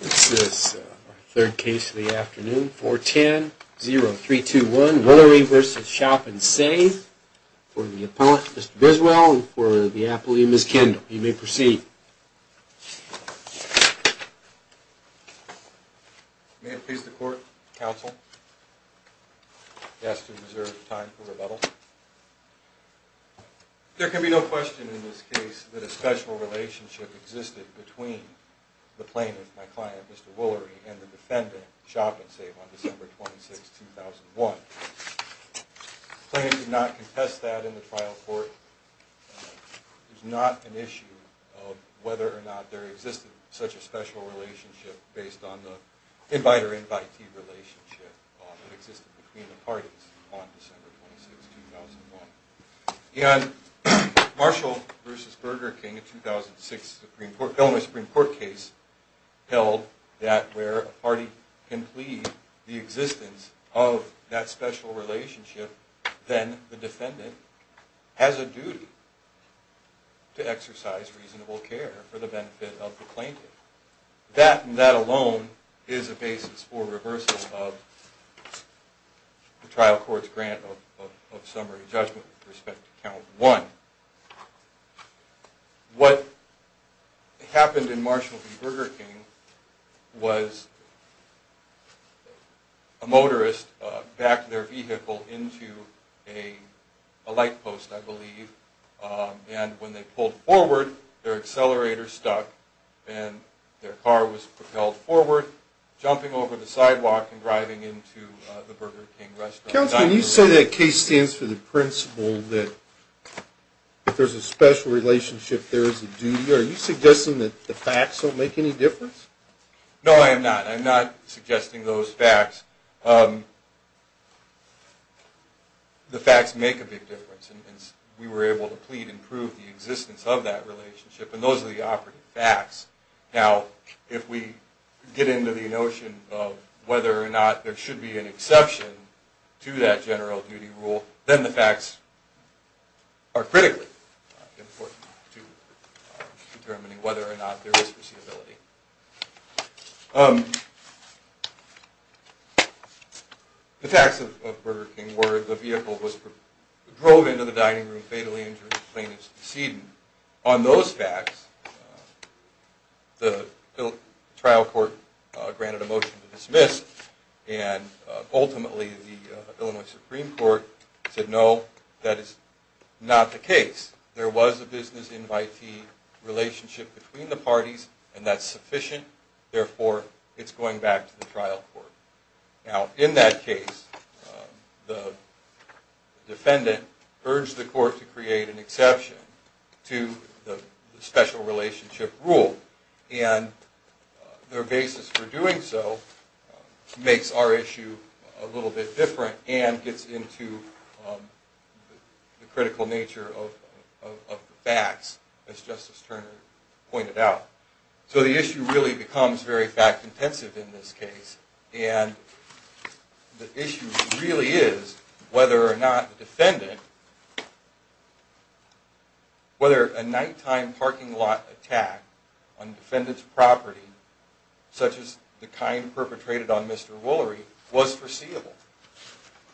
This is our third case of the afternoon, 410-0321, Willery v. Shop-n-Save, for the appellant, Mr. Biswell, and for the appellee, Ms. Kendall. You may proceed. May it please the court, counsel, to ask to reserve time for rebuttal. There can be no question in this case that a special relationship existed between the plaintiff, my client, Mr. Willery, and the defendant, Shop-n-Save, on December 26, 2001. The plaintiff did not contest that in the trial court. There's not an issue of whether or not there existed such a special relationship based on the invite-or-invitee relationship that existed between the parties on December 26, 2001. In Marshall v. Burger King, a 2006 Illinois Supreme Court case, held that where a party can plead the existence of that special relationship, then the defendant has a duty to exercise reasonable care for the benefit of the plaintiff. That, and that alone, is a basis for reversal of the trial court's grant of summary judgment with respect to Count 1. What happened in Marshall v. Burger King was a motorist backed their vehicle into a light post, I believe, and when they pulled forward, their accelerator stuck, and their car was propelled forward, jumping over the sidewalk and driving into the Burger King restaurant. Counsel, when you say that case stands for the principle that if there's a special relationship, there is a duty, are you suggesting that the facts don't make any difference? No, I am not. I'm not suggesting those facts. The facts make a big difference, and we were able to plead and prove the existence of that relationship, and those are the operative facts. Now, if we get into the notion of whether or not there should be an exception to that general duty rule, then the facts are critically important to determining whether or not there is foreseeability. The facts of Burger King were the vehicle drove into the dining room, fatally injured, the plaintiff's decedent. On those facts, the trial court granted a motion to dismiss, and ultimately the Illinois Supreme Court said no, that is not the case. There was a business invitee relationship between the parties, and that's sufficient, therefore it's going back to the trial court. Now, in that case, the defendant urged the court to create an exception to the special relationship rule, and their basis for doing so makes our issue a little bit different, and gets into the critical nature of the facts, as Justice Turner pointed out. So the issue really becomes very fact-intensive in this case, and the issue really is whether or not the defendant, whether a nighttime parking lot attack on defendant's property, such as the kind perpetrated on Mr. Woolery, was foreseeable.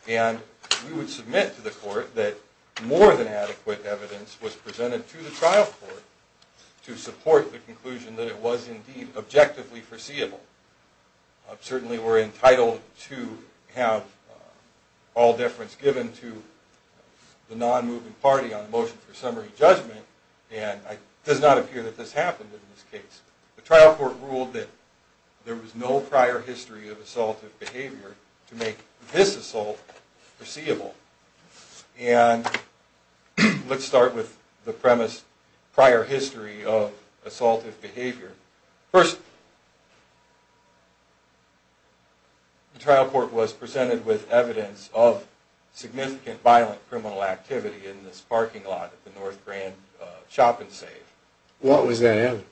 And we would submit to the court that more than adequate evidence was presented to the trial court to support the conclusion that it was indeed objectively foreseeable. Certainly we're entitled to have all deference given to the non-movement party on motion for summary judgment, and it does not appear that this happened in this case. The trial court ruled that there was no prior history of assaultive behavior to make this assault foreseeable. And let's start with the premise, prior history of assaultive behavior. First, the trial court was presented with evidence of significant violent criminal activity in this parking lot at the North Grand Shop and Save. What was that evidence?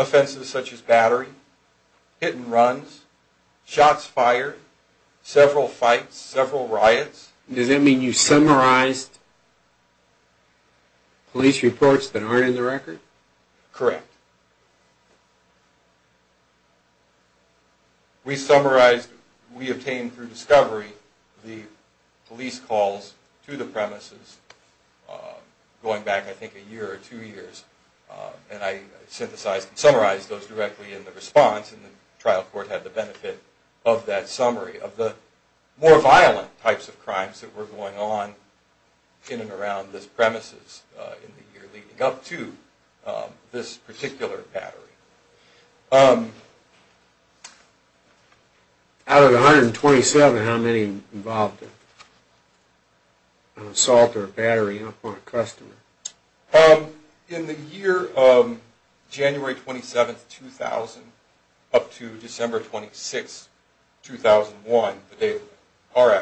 Offenses such as battery, hit and runs, shots fired, several fights, several riots. Does that mean you summarized police reports that aren't in the record? Correct. Out of the 127, how many involved an assault or battery on a customer? In the year of January 27, 2000 up to December 26, 2001, our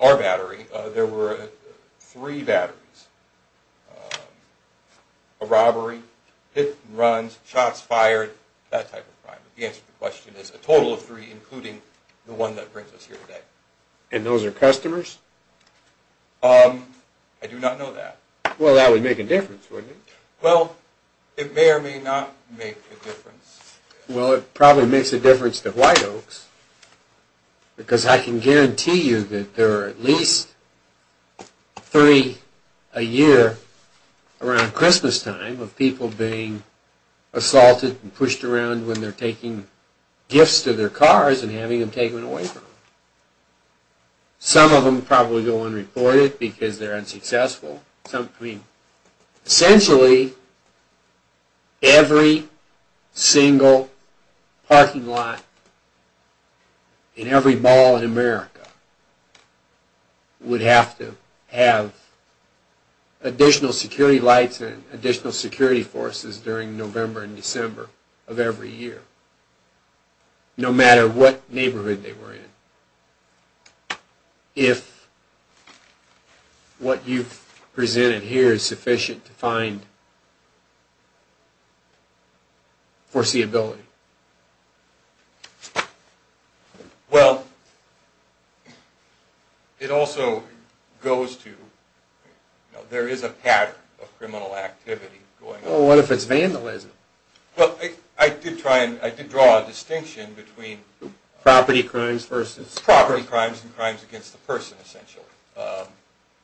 battery, there were three batteries. A robbery, hit and runs, shots fired, that type of crime. The answer to the question is a total of three, including the one that brings us here today. And those are customers? I do not know that. Well, that would make a difference, wouldn't it? Well, it may or may not make a difference. Well, it probably makes a difference to White Oaks, because I can guarantee you that there are at least three a year around Christmas time of people being assaulted and pushed around when they're taking gifts to their cars and having them taken away from them. Some of them probably go unreported because they're unsuccessful. Essentially, every single parking lot in every mall in America would have to have additional security lights and additional security forces during November and December of every year, no matter what neighborhood they were in. If what you've presented here is sufficient to find foreseeability? Well, it also goes to, you know, there is a pattern of criminal activity going on. Well, what if it's vandalism? Well, I did try and, I did draw a distinction between... Property crimes versus... Property crimes and crimes against the person, essentially.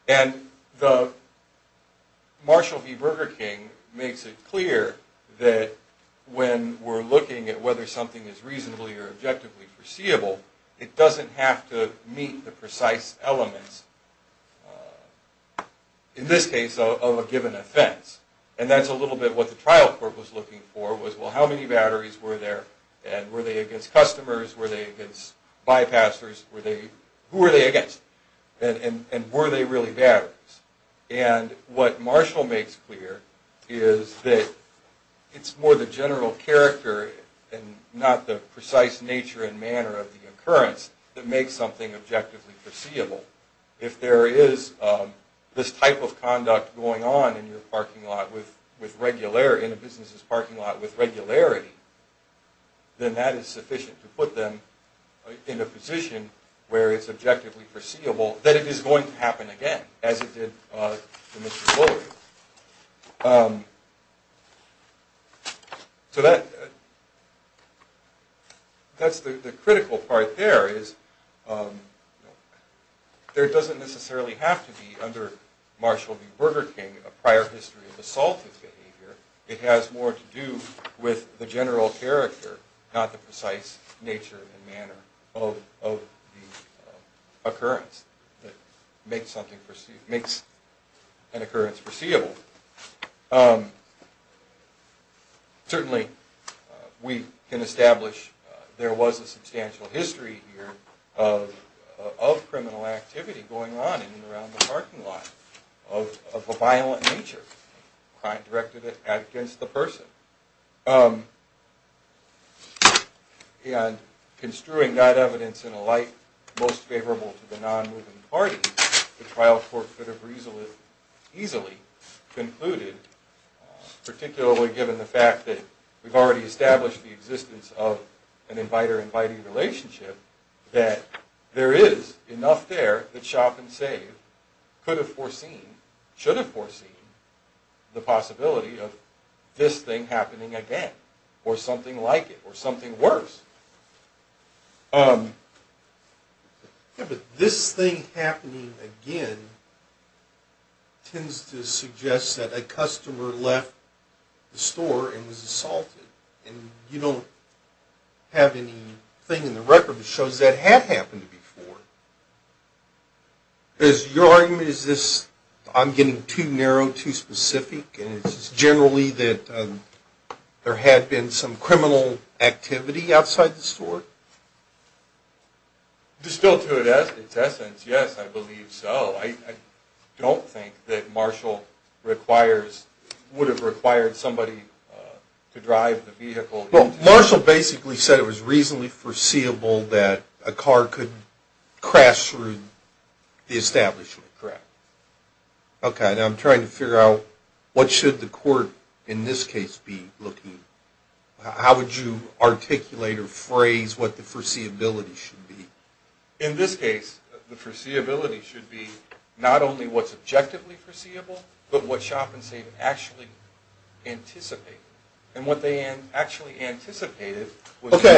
And the Marshall v. Burger King makes it clear that when we're looking at whether something is reasonably or objectively foreseeable, it doesn't have to meet the precise elements, in this case, of a given offense. And that's a little bit what the trial court was looking for, was, well, how many batteries were there? And were they against customers? Were they against bypassers? Who were they against? And were they really batteries? And what Marshall makes clear is that it's more the general character and not the precise nature and manner of the occurrence that makes something objectively foreseeable. But if there is this type of conduct going on in your parking lot with regularity, in a business' parking lot with regularity, then that is sufficient to put them in a position where it's objectively foreseeable that it is going to happen again, as it did for Mr. Buller. So that's the critical part there, is there doesn't necessarily have to be, under Marshall v. Burger King, a prior history of assaultive behavior. It has more to do with the general character, not the precise nature and manner of the occurrence that makes an occurrence foreseeable. Certainly, we can establish there was a substantial history here of criminal activity going on in and around the parking lot of a violent nature, crime directed against the person. And construing that evidence in a light most favorable to the non-moving party, the trial court could have easily concluded, particularly given the fact that we've already established the existence of an inviter-inviting relationship, that there is enough there that shop and save could have foreseen, should have foreseen, the possibility of this thing happening again, or something like it, or something worse. Yeah, but this thing happening again tends to suggest that a customer left the store and was assaulted, and you don't have anything in the record that shows that had happened before. Is your argument, is this, I'm getting too narrow, too specific, and it's generally that there had been some criminal activity outside the store? Distilled to its essence, yes, I believe so. I don't think that Marshall requires, would have required somebody to drive the vehicle. Well, Marshall basically said it was reasonably foreseeable that a car could crash through the establishment. Correct. Okay, now I'm trying to figure out what should the court in this case be looking, how would you articulate or phrase what the foreseeability should be? Okay,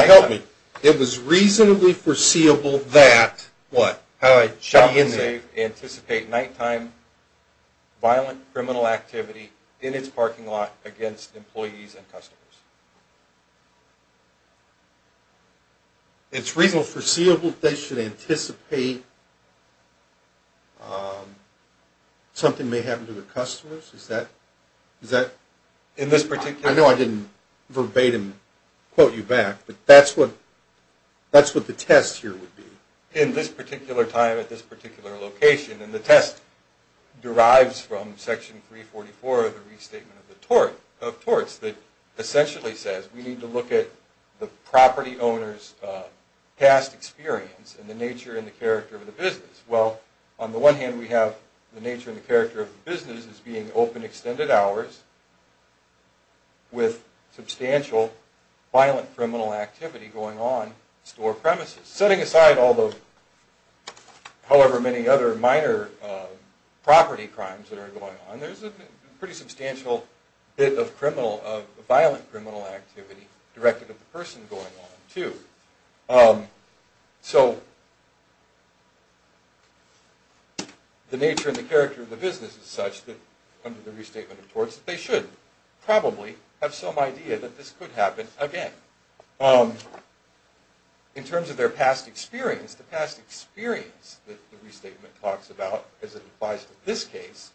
help me. It was reasonably foreseeable that, what? Shop and save anticipate nighttime violent criminal activity in its parking lot against employees and customers. It's reasonably foreseeable that they should anticipate something may happen to the customers? Is that? In this particular case? I know I didn't verbatim quote you back, but that's what the test here would be. In this particular time at this particular location, and the test derives from Section 344 of the Restatement of the Torts that essentially says we need to look at the property owner's past experience and the nature and the character of the business. Well, on the one hand we have the nature and the character of the business as being open extended hours with substantial violent criminal activity going on in store premises. Setting aside all the, however many other minor property crimes that are going on, there's a pretty substantial bit of criminal, of violent criminal activity directed at the person going on too. So, the nature and the character of the business is such that under the Restatement of the Torts that they should probably have some idea that this could happen again. In terms of their past experience, the past experience that the Restatement talks about as it applies to this case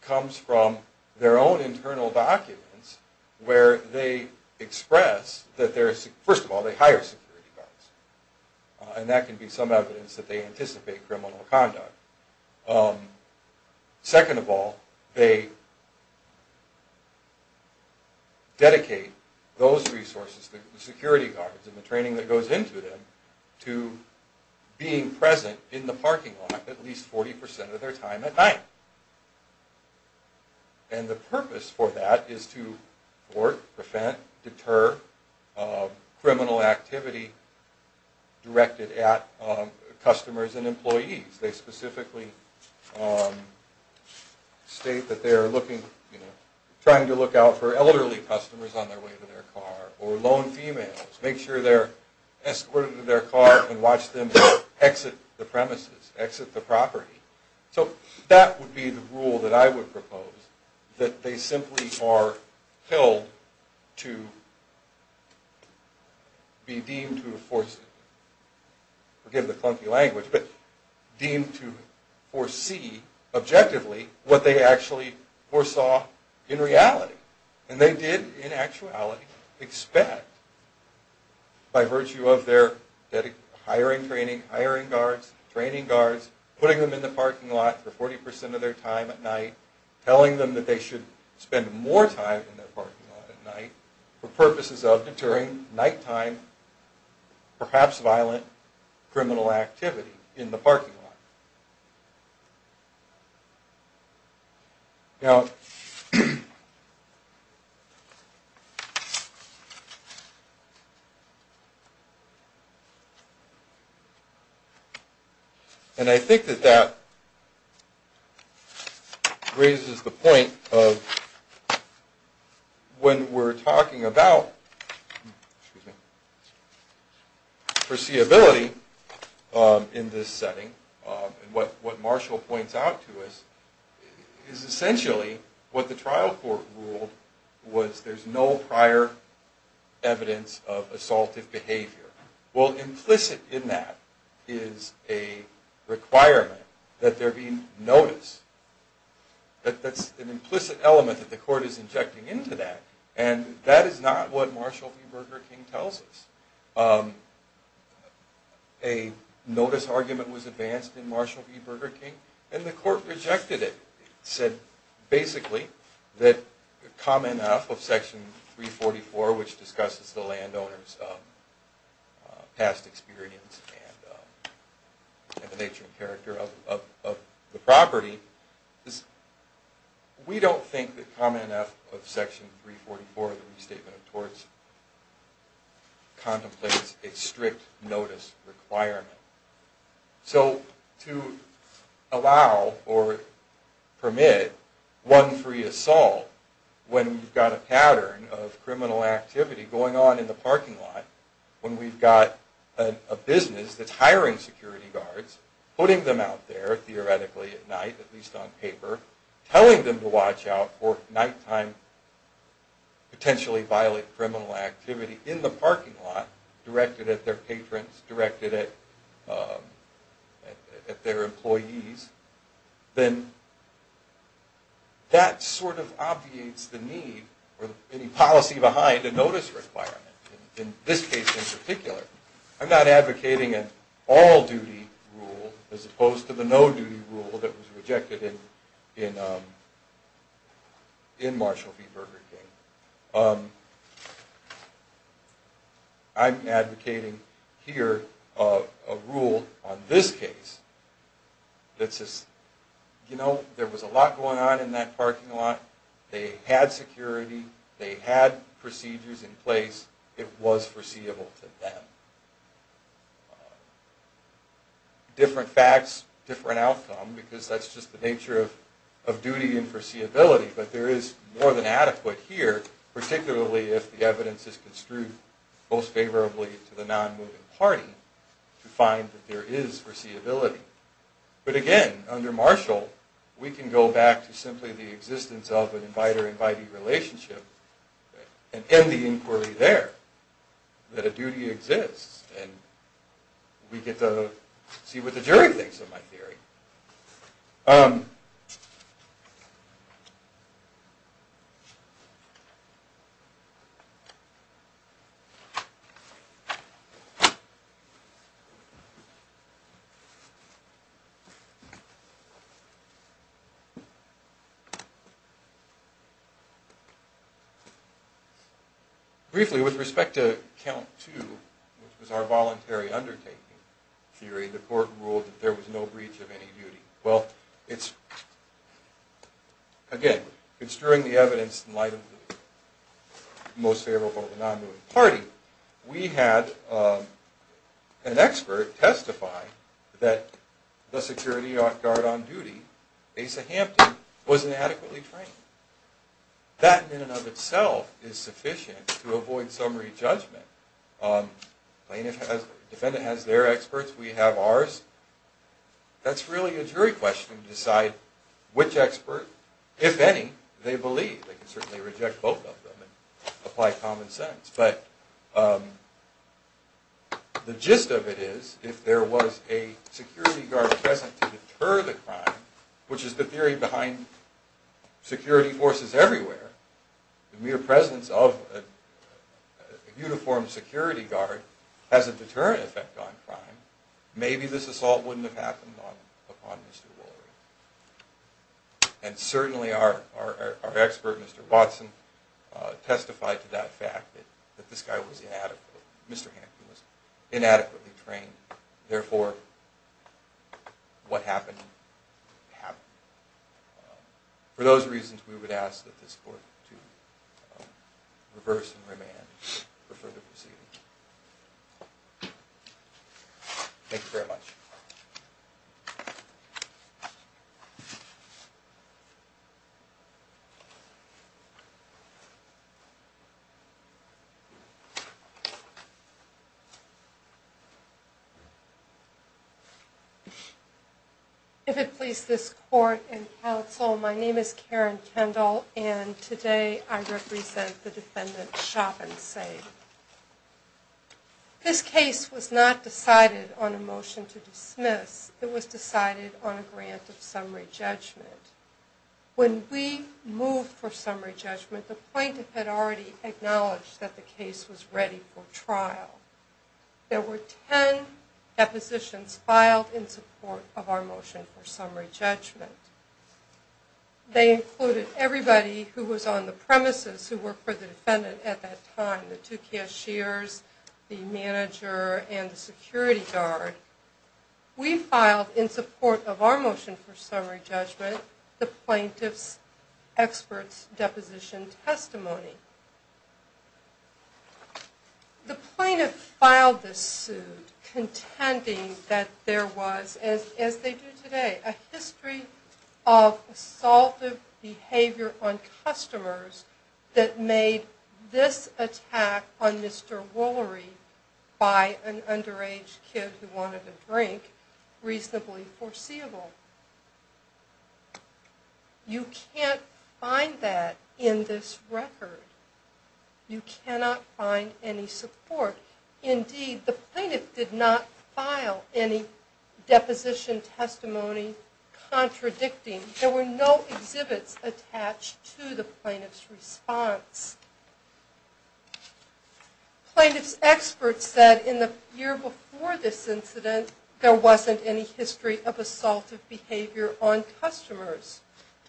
comes from their own internal documents where they express that first of all they hire security guards. And that can be some evidence that they anticipate criminal conduct. Second of all, they dedicate those resources, the security guards and the training that goes into them to being present in the parking lot at least 40% of their time at night. And the purpose for that is to thwart, prevent, deter criminal activity directed at customers and employees. They specifically state that they're looking, trying to look out for elderly customers on their way to their car or lone females. Make sure they're escorted to their car and watch them exit the premises, exit the property. So, that would be the rule that I would propose. That they simply are held to be deemed to foresee, forgive the clunky language, but deemed to foresee objectively what they actually foresaw in reality. And they did, in actuality, expect by virtue of their hiring training, hiring guards, training guards, putting them in the parking lot for 40% of their time at night, telling them that they should spend more time in their parking lot at night for purposes of deterring nighttime, perhaps violent, criminal activity in the parking lot. Now, and I think that that raises the point of when we're talking about foreseeability in this setting, and what Marshall points out to us, is essentially what the trial court ruled was there's no prior evidence of assaultive behavior. Well, implicit in that is a requirement that there be notice. That's an implicit element that the court is injecting into that. And that is not what Marshall v. Burger King tells us. A notice argument was advanced in Marshall v. Burger King, and the court rejected it. It said, basically, that Common F of Section 344, which discusses the landowner's past experience and the nature and character of the property, is we don't think that Common F of Section 344 of the Restatement of Torts contemplates a strict notice requirement. So to allow or permit one free assault when we've got a pattern of criminal activity going on in the parking lot, when we've got a business that's hiring security guards, putting them out there, theoretically, at night, at least on paper, telling them to watch out for nighttime, potentially violent criminal activity in the parking lot, directed at their patrons, directed at their employees, then that sort of obviates the need for any policy behind a notice requirement, in this case in particular. I'm not advocating an all-duty rule as opposed to the no-duty rule that was rejected in Marshall v. Burger King. I'm advocating here a rule on this case that says, you know, there was a lot going on in that parking lot. They had security. They had procedures in place. It was foreseeable to them. Different facts, different outcome, because that's just the nature of duty and foreseeability. But there is more than adequate here, particularly if the evidence is construed most favorably to the non-moving party, to find that there is foreseeability. But again, under Marshall, we can go back to simply the existence of an invite-or-invitee relationship and end the inquiry there, that a duty exists. And we get to see what the jury thinks of my theory. Briefly, with respect to count two, which was our voluntary undertaking theory, the court ruled that there was no breach of any duty. Well, again, construing the evidence in light of the most favorable to the non-moving party, we had an expert testify that the security guard on duty, Asa Hampton, wasn't adequately trained. That, in and of itself, is sufficient to avoid summary judgment. The defendant has their experts. We have ours. That's really a jury question to decide which expert, if any, they believe. They can certainly reject both of them and apply common sense. But the gist of it is, if there was a security guard present to deter the crime, which is the theory behind security forces everywhere, the mere presence of a uniformed security guard has a deterrent effect on crime, maybe this assault wouldn't have happened upon Mr. Woolery. And certainly our expert, Mr. Watson, testified to that fact, that this guy was inadequate. Mr. Hampton was inadequately trained. And therefore, what happened, happened. For those reasons, we would ask that this court to reverse and remand for further proceedings. Thank you very much. If it please this court and counsel, my name is Karen Kendall, and today I represent the defendant, Chauvin Sayde. This case was not decided on a motion to dismiss. It was decided on a grant of summary judgment. When we moved for summary judgment, the plaintiff had already acknowledged that the case was ready for trial. There were ten depositions filed in support of our motion for summary judgment. They included everybody who was on the premises who worked for the defendant at that time, the two cashiers, the manager, and the security guard. We filed, in support of our motion for summary judgment, the plaintiff's expert's deposition testimony. The plaintiff filed this suit contending that there was, as they do today, a history of assaultive behavior on customers that made this attack on Mr. Woolery by an underage kid who wanted a drink reasonably foreseeable. You can't find that in this record. You cannot find any support. Indeed, the plaintiff did not file any deposition testimony contradicting. There were no exhibits attached to the plaintiff's response. Plaintiff's expert said in the year before this incident, there wasn't any history of assaultive behavior on customers.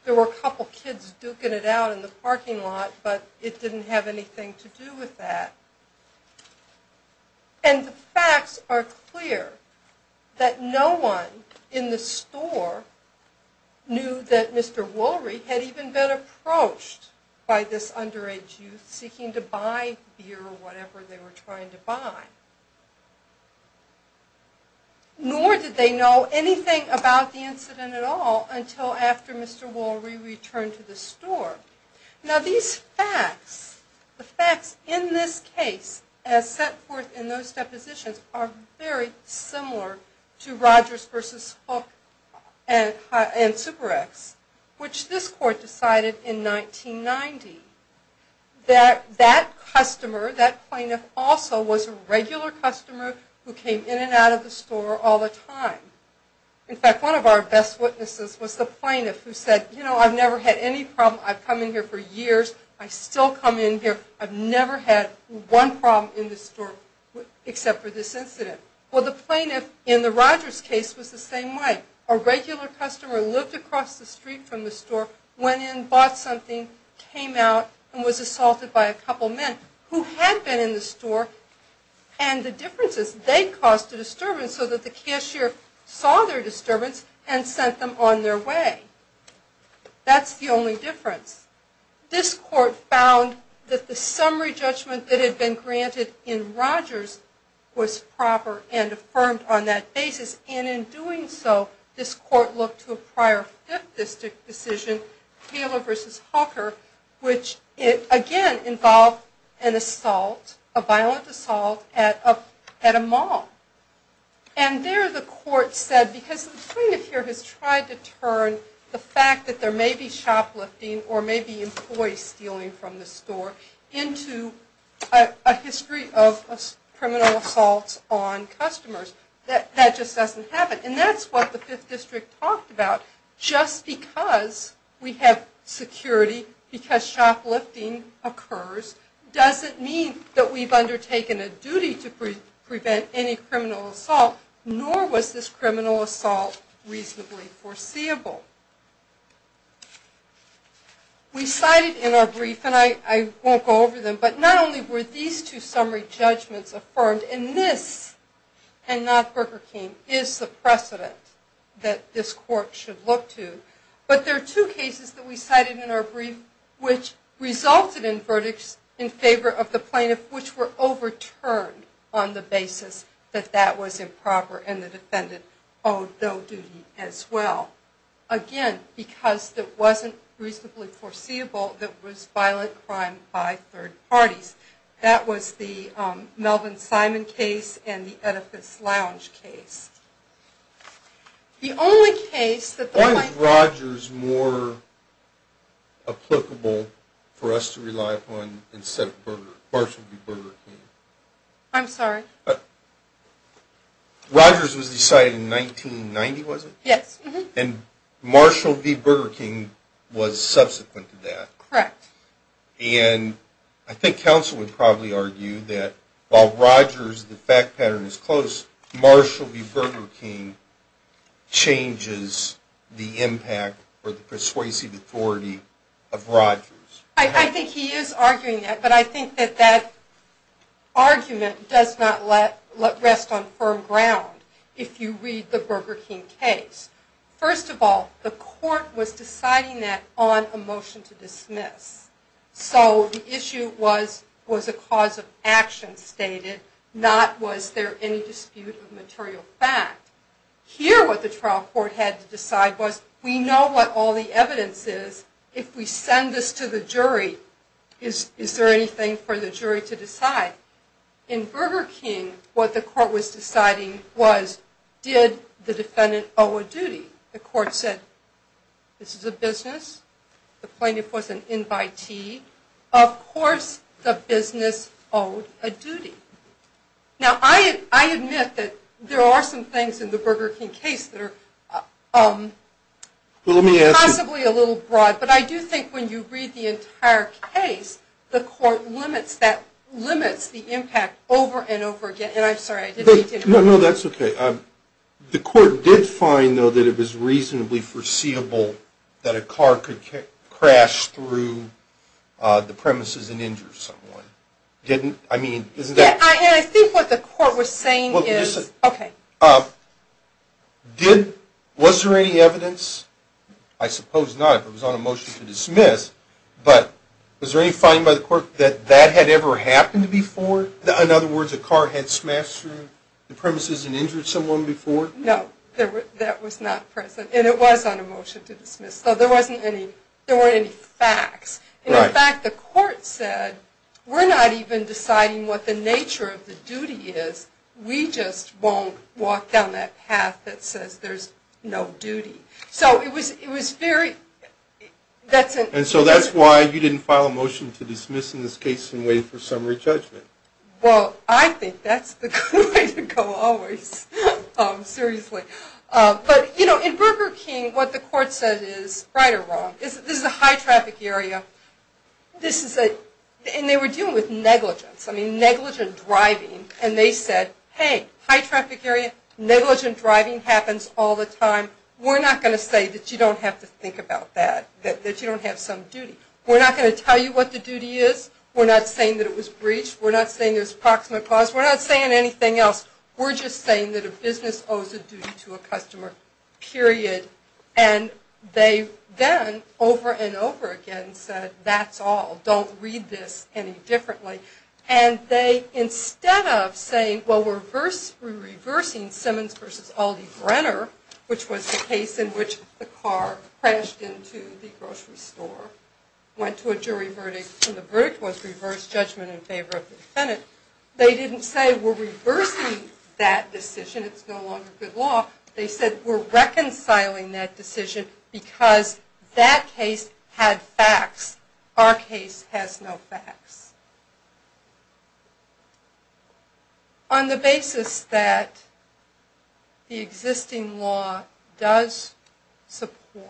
There were a couple kids duking it out in the parking lot, but it didn't have anything to do with that. And the facts are clear that no one in the store knew that Mr. Woolery had even been approached by this underage youth seeking to buy beer or whatever they were trying to buy. Nor did they know anything about the incident at all until after Mr. Woolery returned to the store. Now these facts, the facts in this case as set forth in those depositions, are very similar to Rogers v. Hook and Super-X, which this court decided in 1990 that that customer, that plaintiff, also was a regular customer who came in and out of the store all the time. In fact, one of our best witnesses was the plaintiff who said, you know, I've never had any problem. I've come in here for years. I still come in here. I've never had one problem in this store except for this incident. Well, the plaintiff in the Rogers case was the same way. A regular customer lived across the street from the store, went in, bought something, came out, and was assaulted by a couple men who had been in the store and the differences they caused the disturbance so that the cashier saw their disturbance and sent them on their way. That's the only difference. This court found that the summary judgment that had been granted in Rogers was proper and affirmed on that basis. And in doing so, this court looked to a prior Fifth District decision, Taylor v. Hooker, which again involved an assault, a violent assault, at a mall. And there the court said, because the plaintiff here has tried to turn the fact that there may be shoplifting or maybe employees stealing from the store into a history of criminal assaults on customers, that that just doesn't happen. And that's what the Fifth District talked about. Just because we have security, because shoplifting occurs, doesn't mean that we've undertaken a duty to prevent any criminal assault, nor was this criminal assault reasonably foreseeable. We cited in our brief, and I won't go over them, but not only were these two summary judgments affirmed, and this, and not Burger King, is the precedent that this court should look to, but there are two cases that we cited in our brief which resulted in verdicts in favor of the plaintiff which were overturned on the basis that that was improper and the defendant owed no duty as well. Again, because it wasn't reasonably foreseeable that it was violent crime by third parties. That was the Melvin Simon case and the Oedipus Lounge case. The only case that the plaintiff... Why was Rogers more applicable for us to rely upon instead of Burger, or should it be Burger King? I'm sorry? Rogers was decided in 1990, was it? Yes. And Marshall v. Burger King was subsequent to that. Correct. And I think counsel would probably argue that while Rogers, the fact pattern is close, Marshall v. Burger King changes the impact or the persuasive authority of Rogers. I think he is arguing that, but I think that that argument does not rest on firm ground if you read the Burger King case. First of all, the court was deciding that on a motion to dismiss. So the issue was, was a cause of action stated, not was there any dispute of material fact. Here what the trial court had to decide was, we know what all the evidence is. If we send this to the jury, is there anything for the jury to decide? In Burger King, what the court was deciding was, did the defendant owe a duty? The court said, this is a business. The plaintiff was an invitee. Of course the business owed a duty. Now I admit that there are some things in the Burger King case that are possibly a little broad, but I do think when you read the entire case, the court limits the impact over and over again. And I'm sorry, I didn't mean to interrupt. No, no, that's okay. The court did find, though, that it was reasonably foreseeable that a car could crash through the premises and injure someone. I think what the court was saying is, okay. Was there any evidence? I suppose not, if it was on a motion to dismiss. But was there any finding by the court that that had ever happened before? In other words, a car had smashed through the premises and injured someone before? No, that was not present. And it was on a motion to dismiss. So there weren't any facts. And, in fact, the court said, we're not even deciding what the nature of the duty is. We just won't walk down that path that says there's no duty. So it was very – And so that's why you didn't file a motion to dismiss in this case and wait for summary judgment. Well, I think that's the good way to go always, seriously. But, you know, in Burger King, what the court said is, right or wrong, this is a high-traffic area. And they were dealing with negligence, I mean, negligent driving. And they said, hey, high-traffic area, negligent driving happens all the time. We're not going to say that you don't have to think about that, that you don't have some duty. We're not going to tell you what the duty is. We're not saying that it was breached. We're not saying there's proximate cause. We're not saying anything else. We're just saying that a business owes a duty to a customer, period. And they then, over and over again, said, that's all. Don't read this any differently. And they, instead of saying, well, we're reversing Simmons v. Aldi-Brenner, which was the case in which the car crashed into the grocery store, went to a jury verdict, and the verdict was reverse judgment in favor of the defendant, they didn't say, we're reversing that decision. It's no longer good law. They said, we're reconciling that decision because that case had facts. Our case has no facts. On the basis that the existing law does support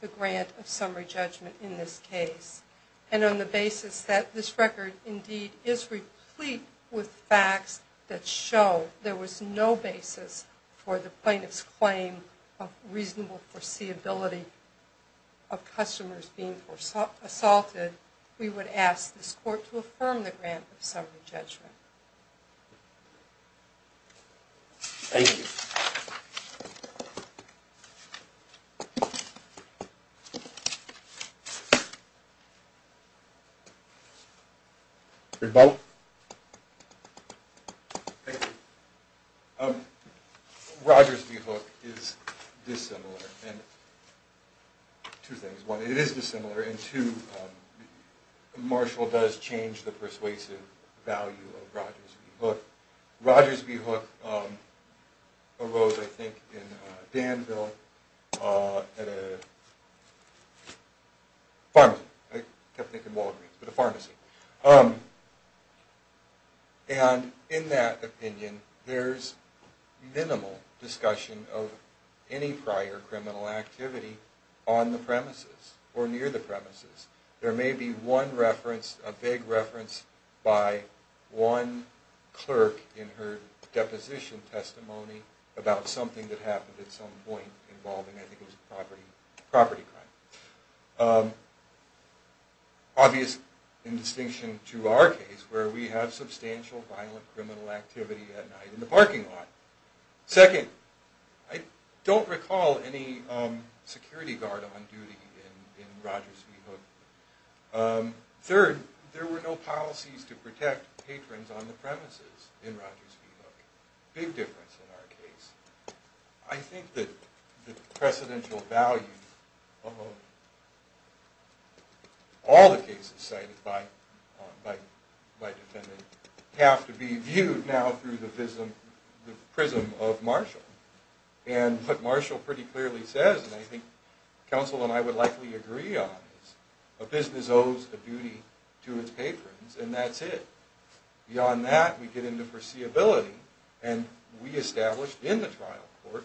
the grant of summary judgment in this case, and on the basis that this record, indeed, is replete with facts that show there was no basis for the plaintiff's claim of reasonable foreseeability of customers being assaulted, we would ask this court to affirm the grant of summary judgment. Thank you. Thank you. Thank you. Rogers v. Hook is dissimilar in two things. One, it is dissimilar, and two, Marshall does change the persuasive value of Rogers v. Hook. Rogers v. Hook arose, I think, in Danville at a pharmacy. I kept thinking Walgreens, but a pharmacy. And in that opinion, there's minimal discussion of any prior criminal activity on the premises or near the premises. There may be one reference, a vague reference, by one clerk in her deposition testimony about something that happened at some point involving, I think it was a property crime. Obvious in distinction to our case, where we have substantial violent criminal activity at night in the parking lot. Second, I don't recall any security guard on duty in Rogers v. Hook. Third, there were no policies to protect patrons on the premises in Rogers v. Hook. Big difference in our case. I think that the precedential value of all the cases cited by defendant have to be viewed now through the prism of Marshall. And what Marshall pretty clearly says, and I think counsel and I would likely agree on, is a business owes a duty to its patrons, and that's it. Beyond that, we get into foreseeability, and we established in the trial court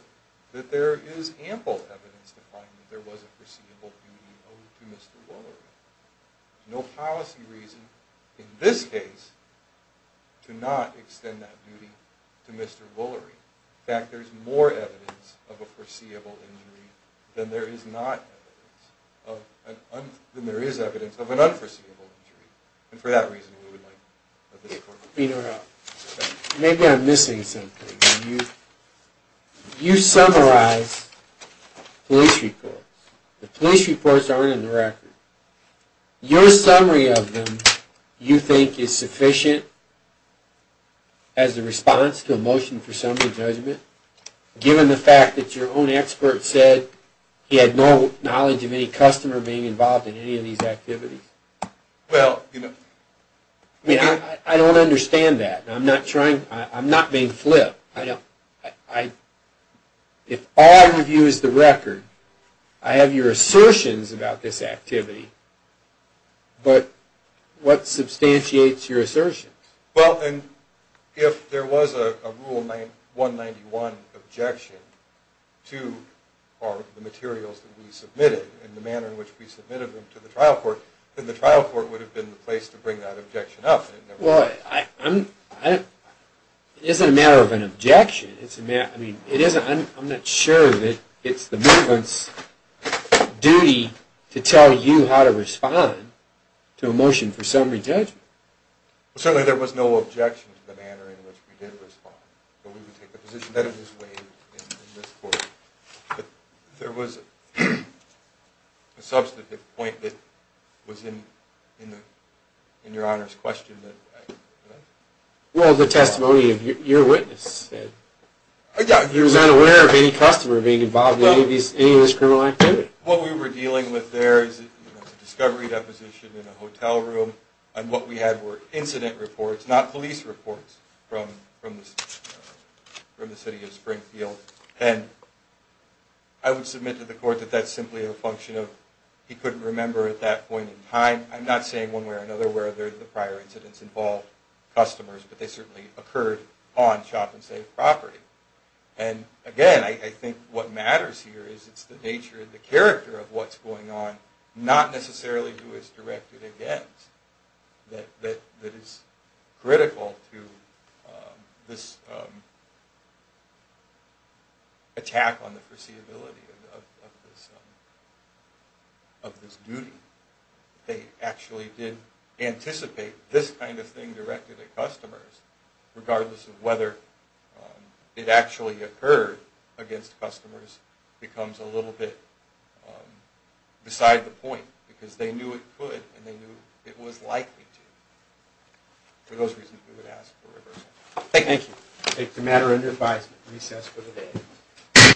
that there is ample evidence to find that there was a foreseeable duty owed to Mr. Waller. No policy reason, in this case, to not extend that duty to Mr. Waller. In fact, there's more evidence of a foreseeable injury than there is evidence of an unforeseeable injury. And for that reason, we would like this court to... Maybe I'm missing something. You summarize police reports. The police reports aren't in the record. Your summary of them you think is sufficient as a response to a motion for summary judgment, given the fact that your own expert said he had no knowledge of any customer being involved in any of these activities? Well, you know... I mean, I don't understand that. I'm not being flipped. If all I review is the record, I have your assertions about this activity, but what substantiates your assertions? Well, if there was a Rule 191 objection to the materials that we submitted and the manner in which we submitted them to the trial court, then the trial court would have been the place to bring that objection up. Well, it isn't a matter of an objection. I mean, I'm not sure that it's the movement's duty to tell you how to respond to a motion for summary judgment. Well, certainly there was no objection to the manner in which we did respond. But we would take the position that it was waived in this court. There was a substantive point that was in your Honor's question. Well, the testimony of your witness. He was unaware of any customer being involved in any of these criminal activities. What we were dealing with there is a discovery deposition in a hotel room, and what we had were incident reports, not police reports, from the city of Springfield. And I would submit to the court that that's simply a function of he couldn't remember at that point in time. I'm not saying one way or another where the prior incidents involved customers, but they certainly occurred on shop and safe property. And again, I think what matters here is it's the nature and the character of what's going on, not necessarily who is directed against, that is critical to this attack on the foreseeability of this duty. They actually did anticipate this kind of thing directed at customers, regardless of whether it actually occurred against customers becomes a little bit beside the point, because they knew it could and they knew it was likely to. For those reasons, we would ask for reversal. Thank you. Thank you. The matter under advisement. Recess for the day.